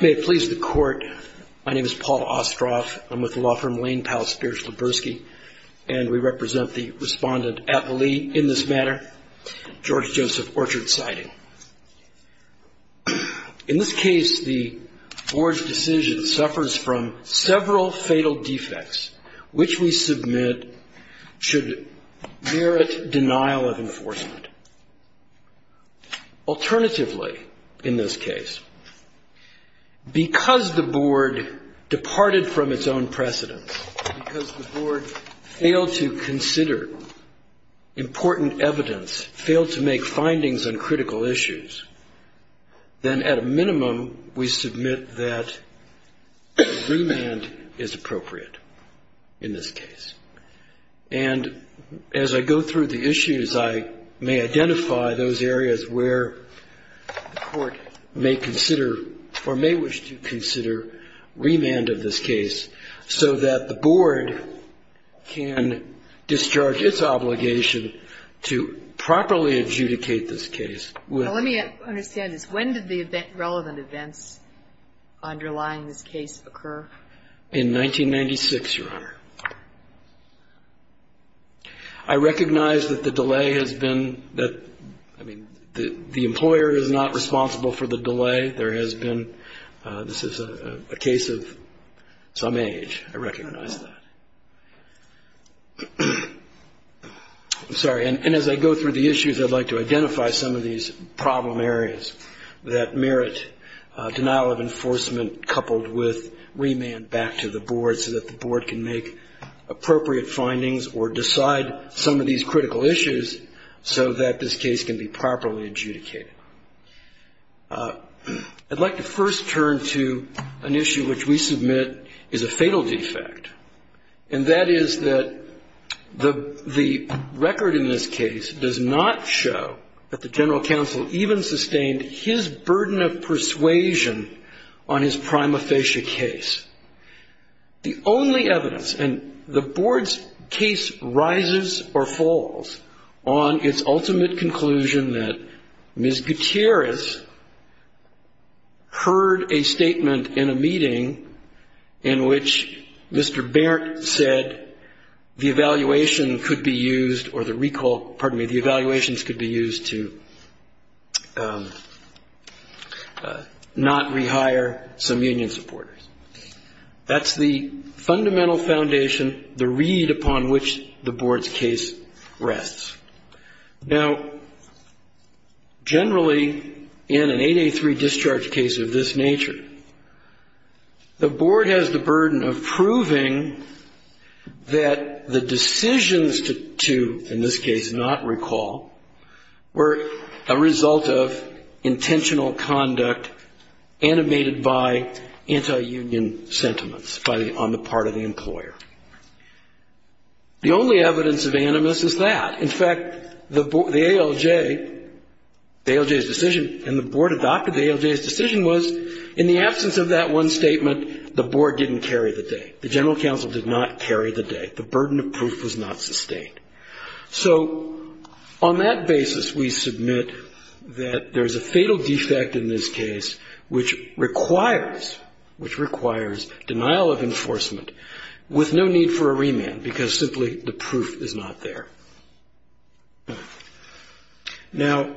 May it please the Court, my name is Paul Ostroff, I'm with the law firm Lane Powell Spears-Leberski, and we represent the Respondent at the Lee in this matter, George Joseph Orchard, citing. In this case, the Board's decision suffers from several fatal defects, which we submit should merit denial of enforcement. Alternatively, in this case, because the Board departed from its own precedence, because the Board failed to consider important evidence, failed to make findings on critical issues, then at a minimum we submit that remand is appropriate in this case. And as I go through the issues, I may identify those areas where the Court may consider, or may wish to consider, remand of this case so that the Board can discharge its obligation to properly adjudicate this case. Well, let me understand this. When did the relevant events underlying this case occur? In 1996, Your Honor. I recognize that the delay has been, that, I mean, the employer is not responsible for the delay. There has been, this is a case of some age, I recognize that. I'm sorry, and as I go through the issues, I'd like to identify some of these problem areas that merit denial of enforcement coupled with remand back to the Board so that the Board can make appropriate findings or decide some of these critical issues so that this case can be properly adjudicated. I'd like to first turn to an issue which we submit is a fatal defect, and that is that the record in this case does not show that the General Counsel even sustained his burden of persuasion on his prima facie case. The only evidence, and the Board's case rises or falls on its ultimate conclusion that Ms. Gutierrez heard a statement in a meeting in which Mr. Berndt said the evaluation could be used or the recall, pardon me, the evaluations could be used to not rehire some union supporters. That's the fundamental foundation, the reed upon which the Board's case rests. Now, generally, in an 883 discharge case of this nature, the Board has the burden of proving that the decisions to, in this case, not recall, were a result of intentional conduct animated by anti-union sentiments on the part of the employer. The only evidence of animus is that. In fact, the ALJ, the ALJ's decision, and the Board adopted the ALJ's decision was, in the absence of that one statement, the Board didn't carry the day. The General Counsel did not carry the day. The burden of proof was not sustained. So, on that basis, we submit that there's a fatal defect in this case which requires, which requires denial of enforcement with no need for a remand because simply the proof is not there. Now,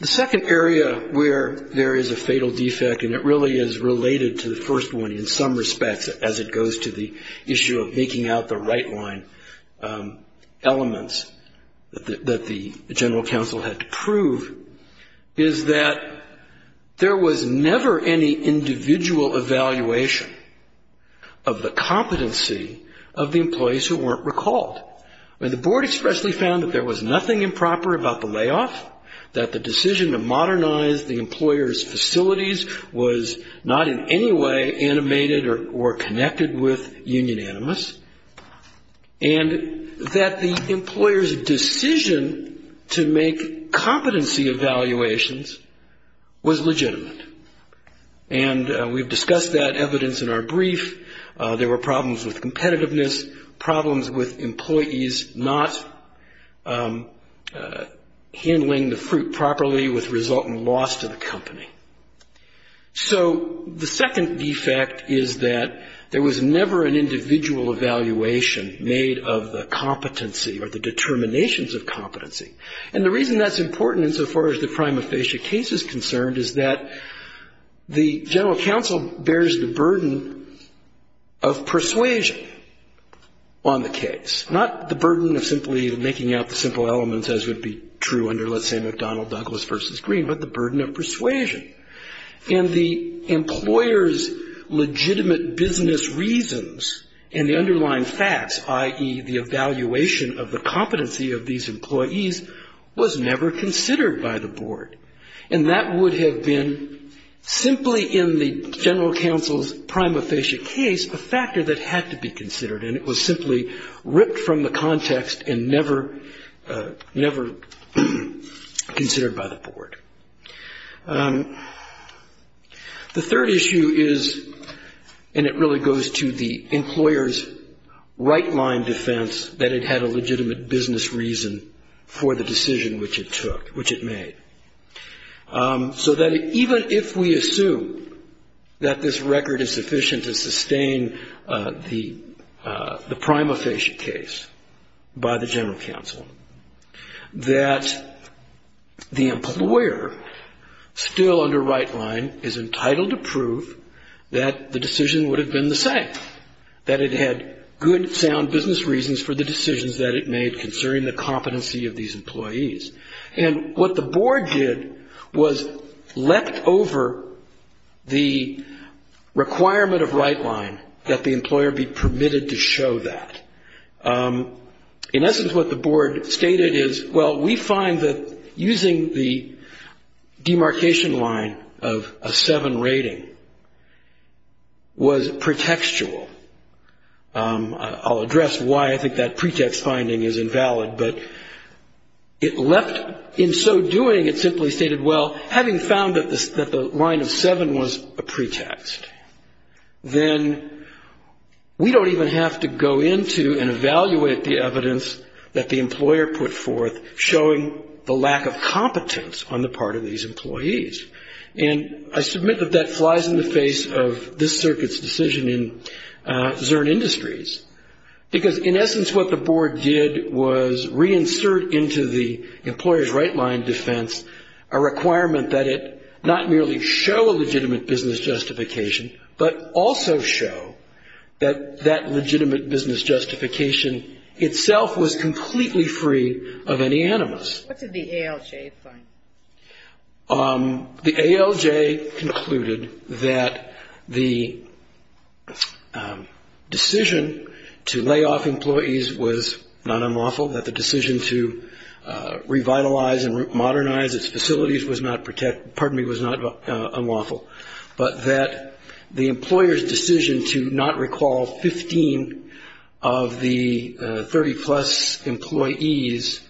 the second area where there is a fatal defect, and it really is related to the first one in some respects as it goes to the issue of making out the right line elements that the General Counsel had to prove, is that there was never any individual evaluation of the competency of the employees who weren't recalled. The Board expressly found that there was nothing improper about the layoff, that the decision to modernize the employer's facilities was not in any way animated or connected with union animus, and that the employer's decision to make competency evaluations was legitimate. And we've discussed that evidence in our brief. There were problems with competitiveness, problems with employees not handling the fruit properly which result in loss to the company. So, the second defect is that there was never an individual evaluation made of the competency or the determinations of competency. And the reason that's important insofar as the prima facie case is concerned is that the General Counsel bears the burden of persuasion on the case. Not the burden of simply making out the simple elements as would be true under let's say McDonnell-Douglas v. Green, but the burden of persuasion. And the employer's evaluation of the competency of these employees was never considered by the Board. And that would have been, simply in the General Counsel's prima facie case, a factor that had to be considered. And it was simply ripped from the context and never considered by the Board. The third issue is, and it really goes to the employer's right-line defense that it had a legitimate business reason for the decision which it took, which it made. So that even if we assume that this record is sufficient to sustain the prima facie case by the General Counsel, that the employer, still under right-line, is entitled to prove that the decision would have been the same. That it had good, sound business reasons for the decisions that it made concerning the competency of these employees. And what the Board did was leapt over the requirement of right-line that the employer be permitted to show that. In essence, what the Board stated is, well, we find that using the demarcation line of a 7 rating was pretextual. I'll address why I think that pretext finding is invalid. But it left, in so doing, it simply stated, well, having found that the line of 7 was a pretext, then we don't even have to go into and evaluate the evidence that the employer put forth showing the lack of competence on the part of these employees. And I submit that that flies in the face of this circuit's decision in Zurn Industries. Because in essence, what the Board did was reinsert into the employer's right-line defense a requirement that it not merely show a legitimate business justification, but also show that that legitimate business justification itself was completely free of any animus. What did the ALJ find? The ALJ concluded that the decision to lay off employees was not unlawful, that the decision to revitalize and modernize its facilities was not unlawful, but that the employer's decision to not recall 15 of the 30-plus employees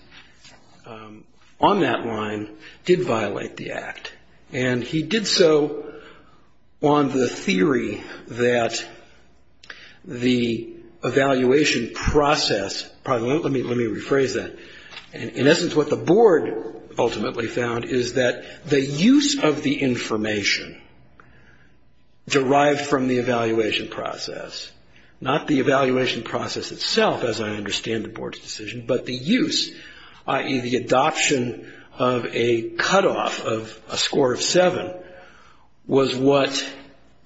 on that line did violate the Act. And he did so on the theory that the evaluation process, let me rephrase that. In essence, what the Board ultimately found is that the use of the information derived from the evaluation process, not the evaluation process itself, as I understand the Board's decision, but the use, i.e., the adoption of a cutoff of a score of seven, was what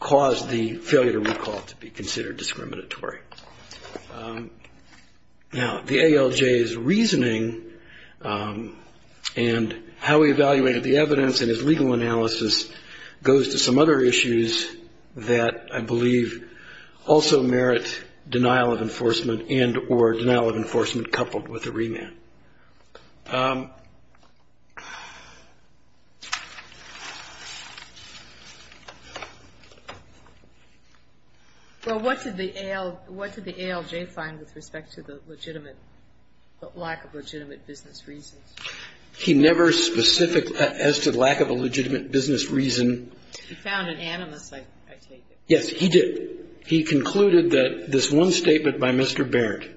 caused the failure to recall to be considered discriminatory. Now, the ALJ's reasoning and how he evaluated the evidence and his legal analysis goes to some other issues that I believe also merit denial of enforcement and or denial of enforcement coupled with a remand. Well, what did the ALJ find with respect to the legitimate, lack of legitimate business reasons? He never specifically, as to lack of a legitimate business reason. He found an animus, I take it. Yes, he did. He concluded that this one statement by Mr. Barrett,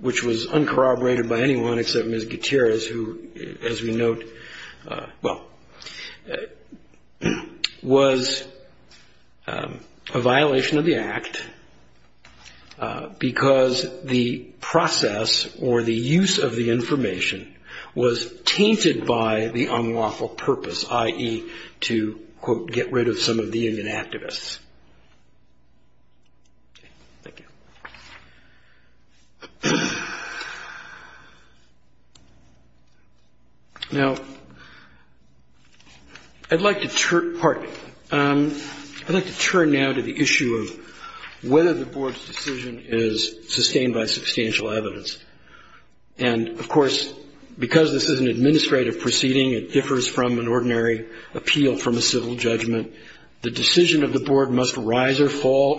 which was uncorroborated by anyone except Ms. Gutierrez, who, as we note, well, was a violation of the Act because the process or the Now, I'd like to turn now to the issue of whether the Board's decision is sustained by substantial evidence. And, of course, because this is an administrative proceeding, it differs from an ordinary appeal from a fall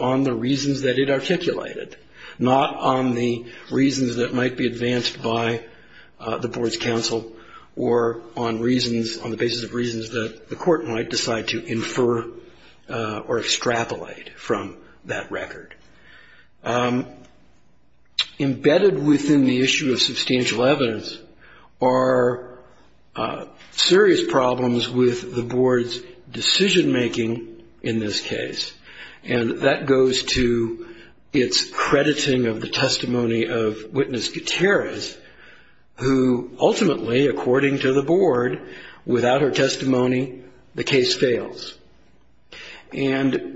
on the reasons that it articulated, not on the reasons that might be advanced by the Board's counsel or on the basis of reasons that the court might decide to infer or extrapolate from that record. Embedded within the issue of substantial evidence are serious problems with the Board's decision-making in this case, and that goes to its crediting of the testimony of Witness Gutierrez, who ultimately, according to the Board, without her testimony, the case fails. And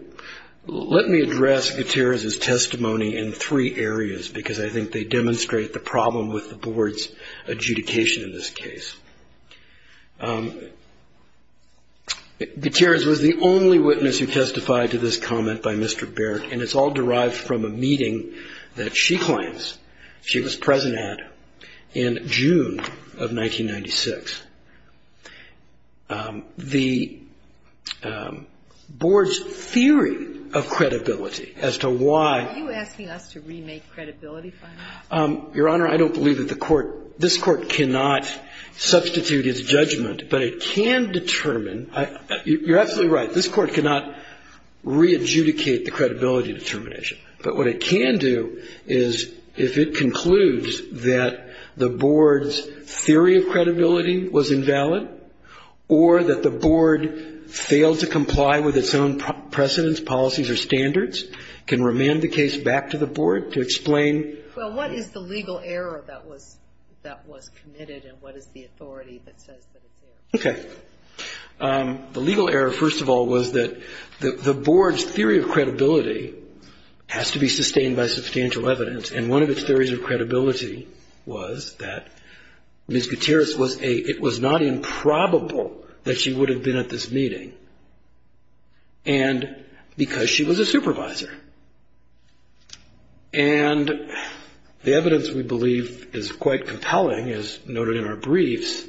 let me address Gutierrez's testimony in three areas, because I think they demonstrate the problem with the Board's adjudication in this case. Gutierrez was the only witness who testified to this comment by Mr. Baird, and it's all derived from a meeting that she claims she was present at in June of 1996. The Board's theory of credibility as to why — Are you asking us to remake credibility findings? Your Honor, I don't believe that the court — this Court cannot substitute its judgment, but it can determine — you're absolutely right, this Court cannot re-adjudicate the credibility determination. But what it can do is, if it concludes that the Board's theory of credibility was invalid, or that the Board failed to comply with its own precedents, policies or standards, can remand the case back to the Board to explain — Well, what is the legal error that was committed, and what is the authority that says that it's there? Okay. The legal error, first of all, was that the Board's theory of credibility has to be sustained by substantial evidence, and one of its theories of credibility was that Ms. Gutierrez was a — it was not improbable that she would have been at this meeting because she was a supervisor. And the evidence, we believe, is quite compelling, as noted in our briefs,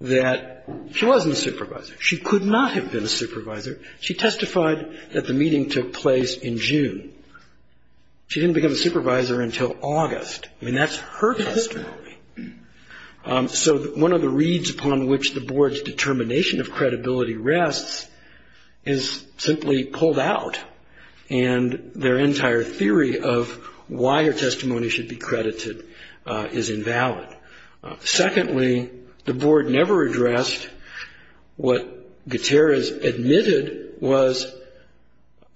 that she wasn't a supervisor. She could not have been a supervisor. She testified that the meeting took place in June. She didn't become a supervisor until August. I mean, that's her testimony. So one of the reeds upon which the Board's determination of credibility rests is simply pulled out, and their entire theory of why her testimony should be credited is invalid. Secondly, the Board never addressed what Gutierrez admitted was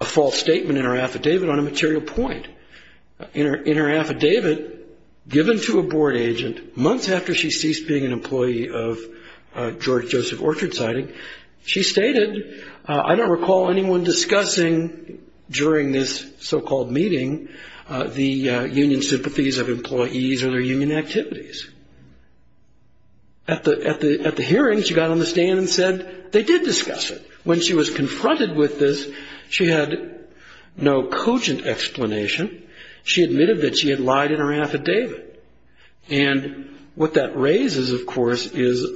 a false statement in her affidavit on a material point. In her affidavit given to a Board agent months after she ceased being an employee of George Joseph Orchard Siding, she stated, I don't recall anyone discussing during this so-called meeting the union sympathies of employees or their union activities. At the hearing, she got on the stand and said they did discuss it. When she was confronted with this, she had no cogent explanation. She admitted that she had lied in her affidavit. And what that raises, of course, is,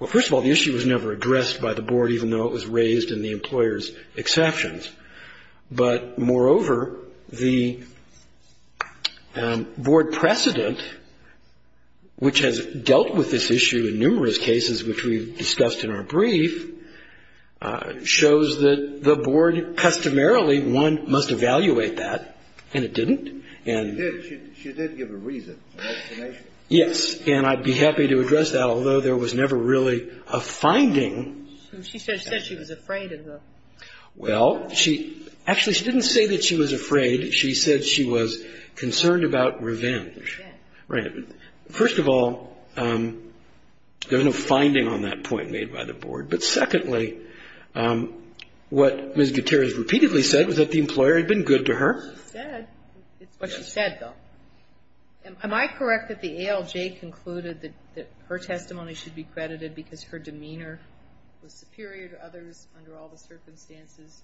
well, first of all, the issue was never addressed by the Board, even though it was raised in the employer's exceptions. But, moreover, the Board precedent, which has dealt with this issue in numerous cases, which we've discussed in our brief, shows that the Board customarily, one, must evaluate that, and it didn't. She did give a reason, an explanation. Yes. And I'd be happy to address that, although there was never really a finding. She said she was afraid of the Board. Well, actually, she didn't say that she was afraid. She said she was concerned about revenge. Right. First of all, there was no finding on that point made by the Board. But, secondly, what Ms. Gutierrez repeatedly said was that the employer had been good to her. It's what she said. It's what she said, though. Am I correct that the ALJ concluded that her testimony should be credited because her demeanor was superior to others under all the circumstances,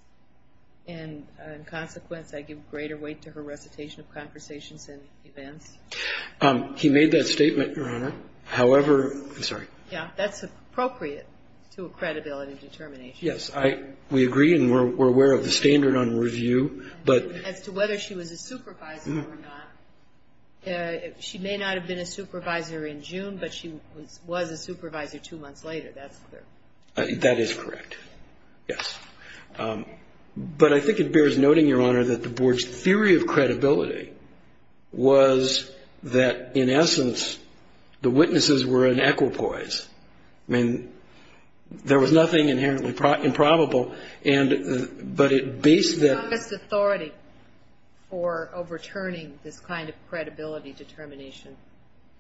and, in consequence, I give greater weight to her recitation of conversations and events? He made that statement, Your Honor. However, I'm sorry. Yeah, that's appropriate to a credibility determination. Yes. We agree, and we're aware of the standard on review. As to whether she was a supervisor or not, she may not have been a supervisor in June, but she was a supervisor two months later. That is correct. Yes. But I think it bears noting, Your Honor, that the Board's theory of credibility was that, in essence, the witnesses were an equipoise. I mean, there was nothing inherently improbable. But it based the ---- Who has the strongest authority for overturning this kind of credibility determination?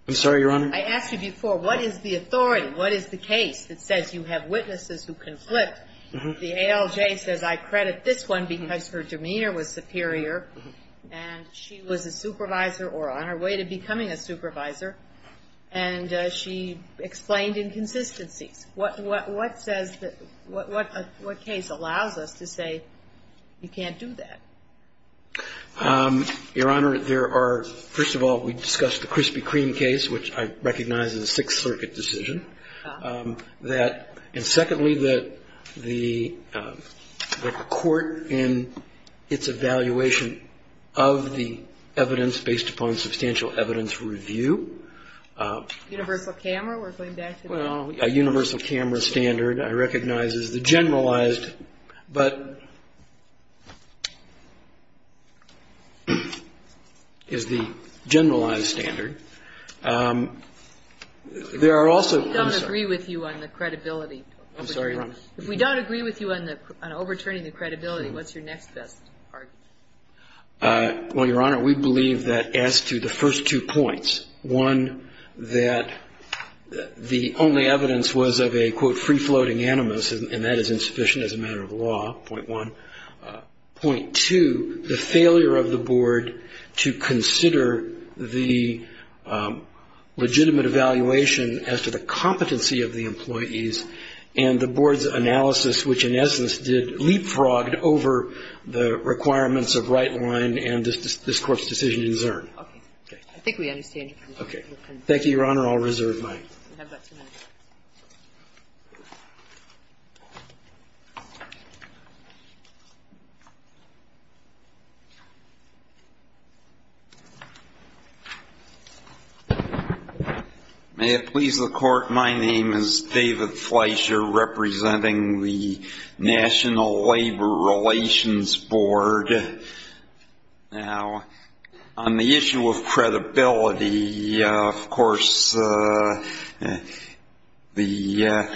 I'm sorry, Your Honor? I asked you before, what is the authority? What is the case that says you have witnesses who conflict? The ALJ says, I credit this one because her demeanor was superior, and she was a supervisor or on her way to becoming a supervisor, and she explained inconsistencies. What case allows us to say you can't do that? Your Honor, there are, first of all, we discussed the Krispy Kreme case, which I recognize is a Sixth Circuit decision. And secondly, that the court in its evaluation of the evidence based upon substantial evidence review. Universal camera, we're going back to that. A universal camera standard I recognize is the generalized, but ---- is the generalized standard. There are also ---- We don't agree with you on the credibility. I'm sorry, Your Honor? If we don't agree with you on overturning the credibility, what's your next best argument? Well, Your Honor, we believe that as to the first two points, one, that the only evidence was of a, quote, free-floating animus, and that is insufficient as a matter of law, point one. Point two, the failure of the board to consider the legitimate evaluation as to the competency of the employees, and the board's analysis, which in essence did leapfrogged over the requirements of right line and this Court's decision in CERN. Okay. I think we understand. Okay. Thank you, Your Honor. I'll reserve mine. You have about two minutes. May it please the Court. My name is David Fleischer, representing the National Labor Relations Board. Now, on the issue of credibility, of course, the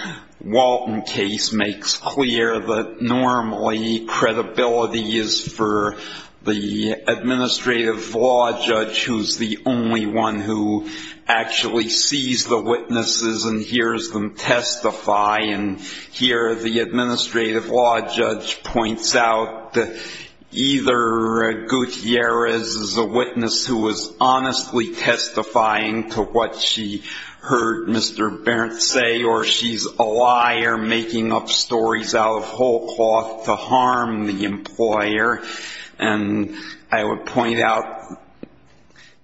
Walton case makes clear that normally credibility is for the administrative law judge, who's the only one who actually sees the witnesses and hears them testify. And here the administrative law judge points out that either Gutierrez is a witness who is honestly testifying to what she heard Mr. Berndt say, or she's a liar making up stories out of whole cloth to harm the employer. And I would point out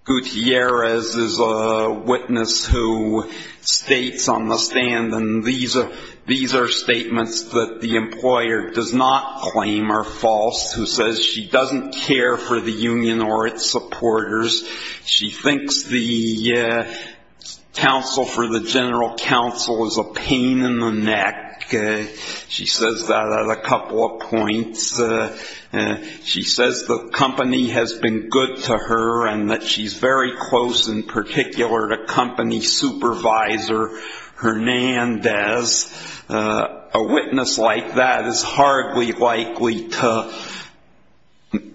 Gutierrez is a witness who states on the stand, and these are statements that the employer does not claim are false, who says she doesn't care for the union or its supporters. She thinks the counsel for the general counsel is a pain in the neck. She says that at a couple of points. She says the company has been good to her and that she's very close in particular to company supervisor Hernandez. A witness like that is hardly likely to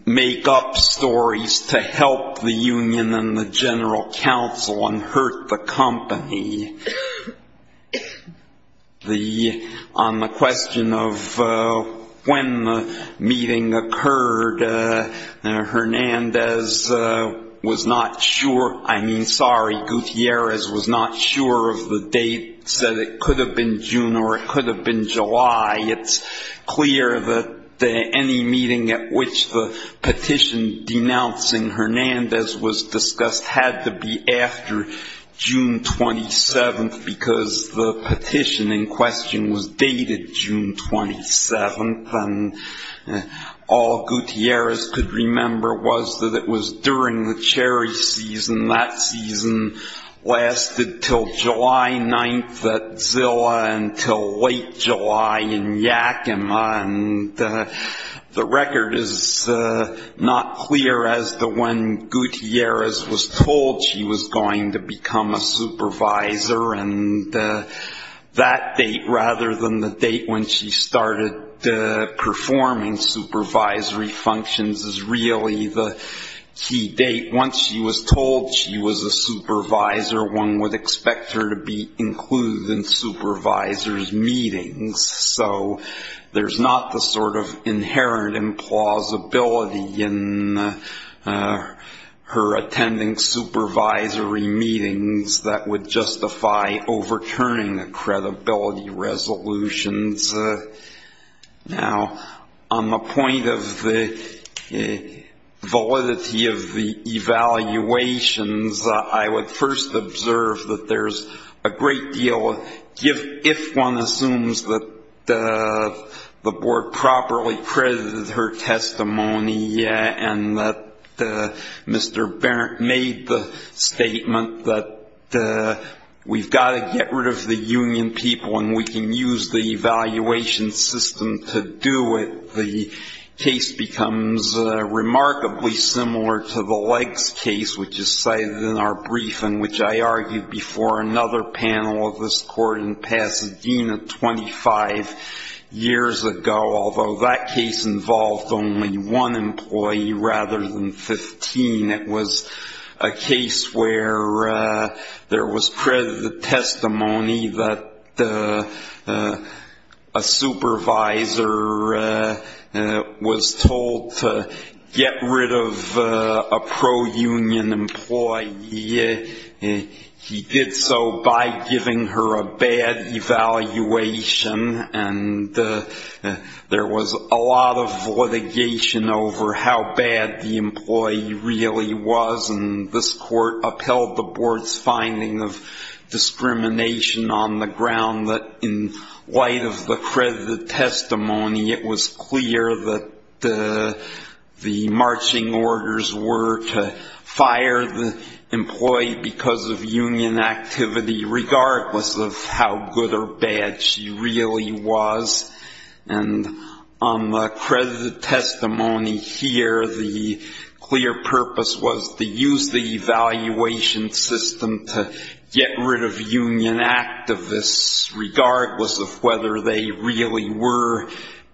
make up stories to help the union and the general counsel and hurt the company. On the question of when the meeting occurred, Hernandez was not sure. I mean, sorry, Gutierrez was not sure of the date, said it could have been June or it could have been July. It's clear that any meeting at which the petition denouncing Hernandez was discussed had to be after June 27th, because the petition in question was dated June 27th. And all Gutierrez could remember was that it was during the cherry season. That season lasted until July 9th at Zilla until late July in Yakima. And the record is not clear as to when Gutierrez was told she was going to become a supervisor. And that date rather than the date when she started performing supervisory functions is really the key date. Once she was told she was a supervisor, one would expect her to be included in supervisors' meetings. So there's not the sort of inherent implausibility in her attending supervisory meetings that would justify overturning the credibility resolutions. Now, on the point of the validity of the evaluations, I would first observe that there's a great deal of gift if one assumes that the board properly credited her testimony and that Mr. Barrett made the statement that we've got to get rid of the union people and we can use the evaluation system to do it. The case becomes remarkably similar to the Leggs case, which is cited in our briefing, which I argued before another panel of this court in Pasadena 25 years ago, although that case involved only one employee rather than 15. It was a case where there was credited testimony that a supervisor was told to get rid of a pro-union employee. He did so by giving her a bad evaluation, and there was a lot of litigation over how bad the employee really was, and this court upheld the board's finding of discrimination on the ground that in light of the credited testimony, it was clear that the marching orders were to fire the employee because of union activity, regardless of how good or bad she really was. And on the credited testimony here, the clear purpose was to use the evaluation system to get rid of union activists, regardless of whether they really were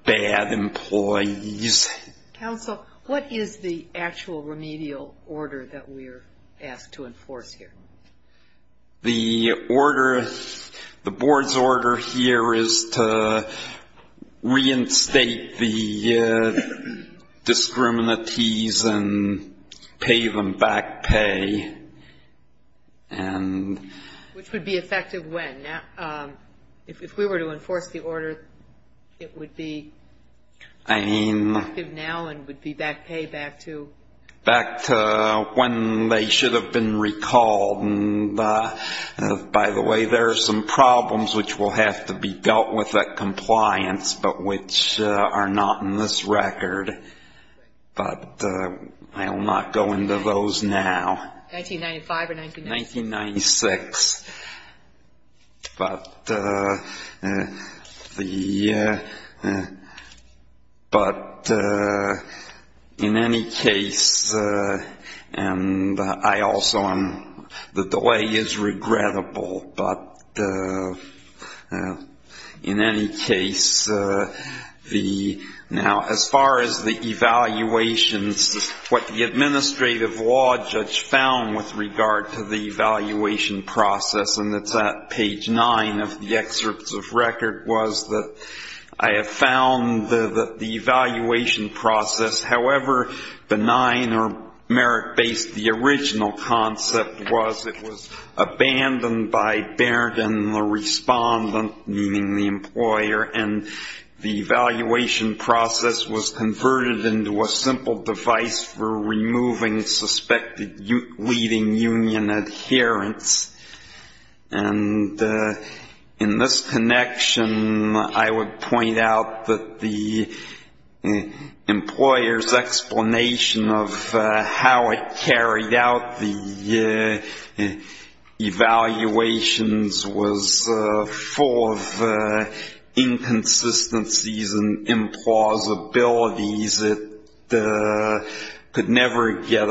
bad employees. Counsel, what is the actual remedial order that we're asked to enforce here? The order, the board's order here is to reinstate the discriminates and pay them back pay. Which would be effective when? If we were to enforce the order, it would be? Effective now and would be back pay back to? Back to when they should have been recalled. And by the way, there are some problems which will have to be dealt with at compliance, but which are not in this record, but I will not go into those now. 1995 or 1996? 1996. But in any case, and I also am, the delay is regrettable. But in any case, now as far as the evaluations, what the administrative law judge found with regard to the evaluation process, and it's at page nine of the excerpts of record, was that I have found that the evaluation process, however benign or merit-based the original concept was, it was abandoned by Baird and the respondent, meaning the employer, and the evaluation process was converted into a simple device for removing suspected leading union adherence. And in this connection, I would point out that the employer's explanation of how it carried out the evaluations was full of inconsistencies and implausibilities. It could never get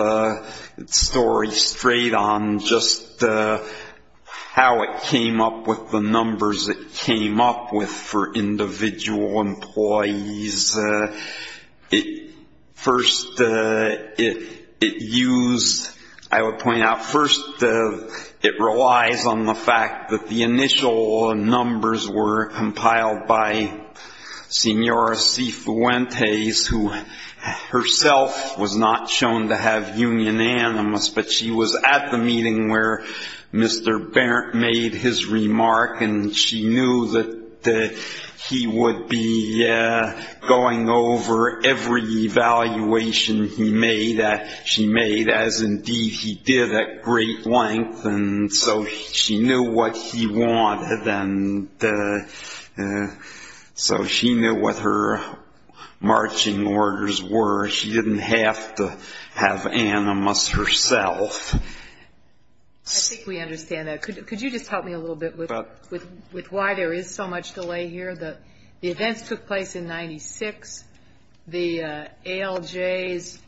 its story straight on just how it came up with the numbers it came up with for individual employees. First, it relies on the fact that the initial numbers were compiled by Senora C. Fuentes, who herself was not shown to have union animus, but she was at the meeting where Mr. Baird made his remark, and she knew that he would be going over every evaluation she made, as indeed he did at great length. And so she knew what he wanted, and so she knew what her marching orders were. She didn't have to have animus herself. I think we understand that. Could you just help me a little bit with why there is so much delay here? The events took place in 96. The ALJ's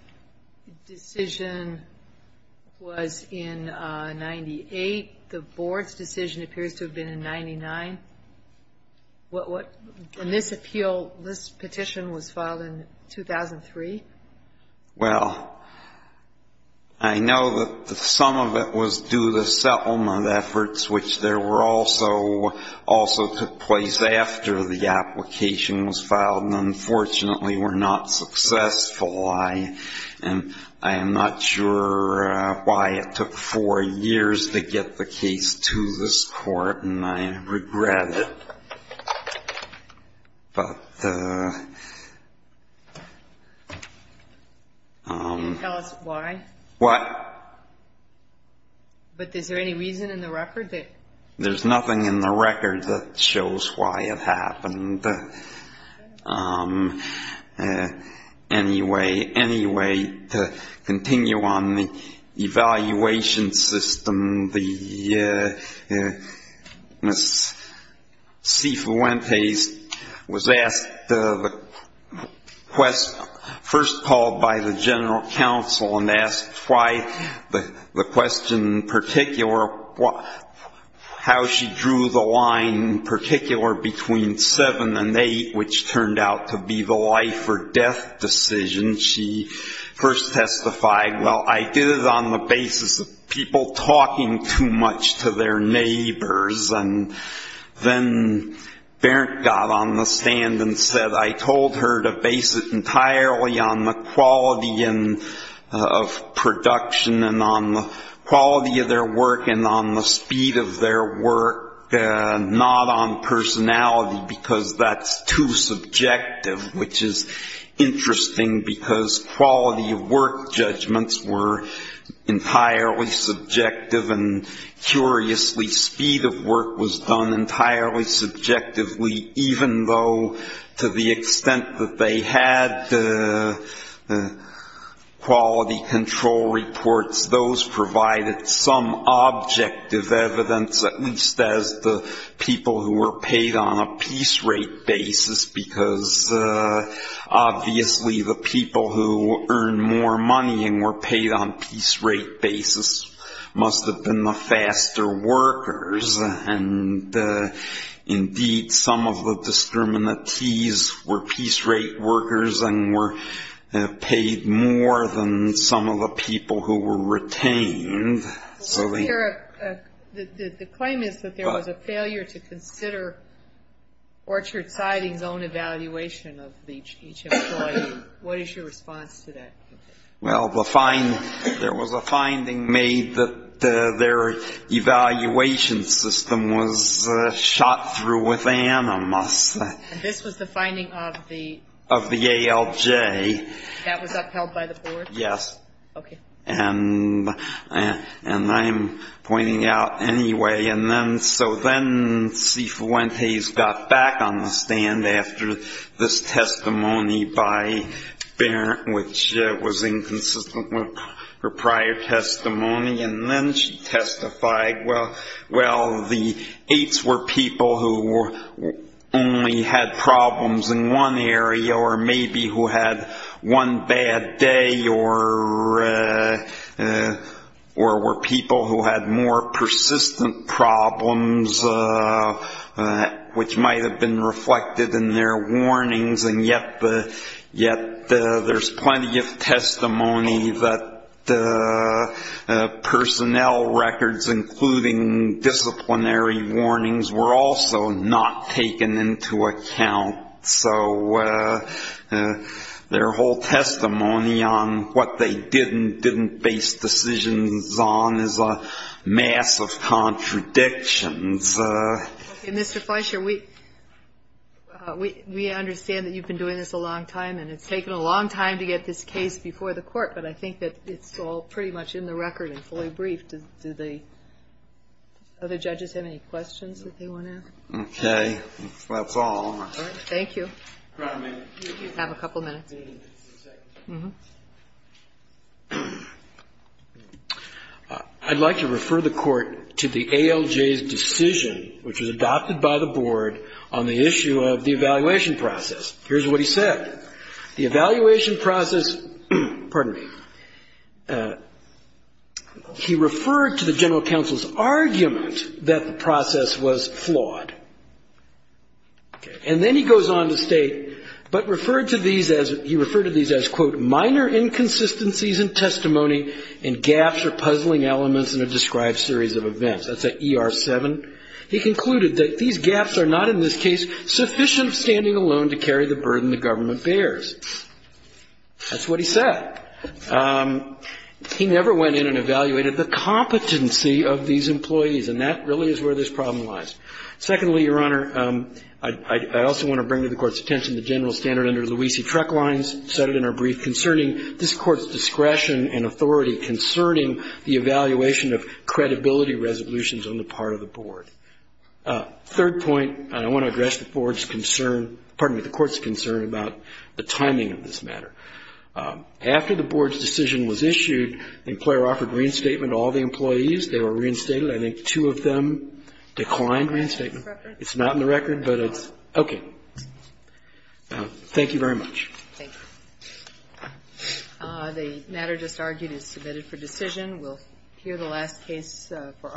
decision was in 98. The Board's decision appears to have been in 99. And this appeal, this petition was filed in 2003? Well, I know that some of it was due to settlement efforts, which also took place after the application was filed, and unfortunately were not successful. I am not sure why it took four years to get the case to this court, and I regret it. But... Can you tell us why? What? But is there any reason in the record that... There's nothing in the record that shows why it happened. Anyway, to continue on the evaluation system, Ms. C. Fuentes was asked, first called by the General Counsel and asked why the question in particular, how she drew the line in particular between 7 and 8, which turned out to be the life or death decision. She first testified, well, I did it on the basis of people talking too much to their neighbors. And then Berndt got on the stand and said, I told her to base it entirely on the quality of production and on the quality of their work and on the speed of their work, not on personality, because that's too subjective, which is interesting because quality of work judgments were entirely subjective, and curiously, speed of work was done entirely subjectively, even though to the extent that they had quality control reports, those provided some objective evidence, at least as the people who were paid on a piece rate basis, because obviously the people who earned more money and were paid on a piece rate basis must have been the faster workers. And indeed, some of the discriminatees were piece rate workers and were paid more than some of the people who were retained. The claim is that there was a failure to consider Orchard Siding's own evaluation of each employee. What is your response to that? Well, there was a finding made that their evaluation system was shot through with animus. This was the finding of the? Of the ALJ. That was upheld by the board? Yes. Okay. And I'm pointing out anyway. So then C. Fuentes got back on the stand after this testimony by Barrett, which was inconsistent with her prior testimony, and then she testified, well, the eights were people who only had problems in one area or maybe who had one bad day or were people who had more persistent problems, which might have been reflected in their warnings, and yet there's plenty of testimony that personnel records, including disciplinary warnings, were also not taken into account. So their whole testimony on what they did and didn't base decisions on is a mass of contradictions. Mr. Fleischer, we understand that you've been doing this a long time, and it's taken a long time to get this case before the court, but I think that it's all pretty much in the record and fully briefed. Do the other judges have any questions that they want to ask? Okay. That's all. All right. Thank you. Have a couple minutes. I'd like to refer the court to the ALJ's decision, which was adopted by the board, on the issue of the evaluation process. Here's what he said. The evaluation process, pardon me, he referred to the general counsel's argument that the process was flawed. And then he goes on to state, but referred to these as, he referred to these as, quote, minor inconsistencies in testimony and gaps or puzzling elements in a described series of events. That's an ER7. He concluded that these gaps are not, in this case, sufficient standing alone to carry the burden the government bears. That's what he said. He never went in and evaluated the competency of these employees, and that really is where this problem lies. Secondly, Your Honor, I also want to bring to the court's attention the general standard under the Luisi-Trek lines cited in our brief concerning this court's discretion and authority concerning the evaluation of credibility resolutions on the part of the board. Third point, I want to address the board's concern, pardon me, the court's concern about the timing of this matter. After the board's decision was issued, the employer offered reinstatement to all the employees. They were reinstated. I think two of them declined reinstatement. It's not in the record, but it's okay. Thank you very much. Thank you. The matter just argued is submitted for decision. We'll hear the last case for our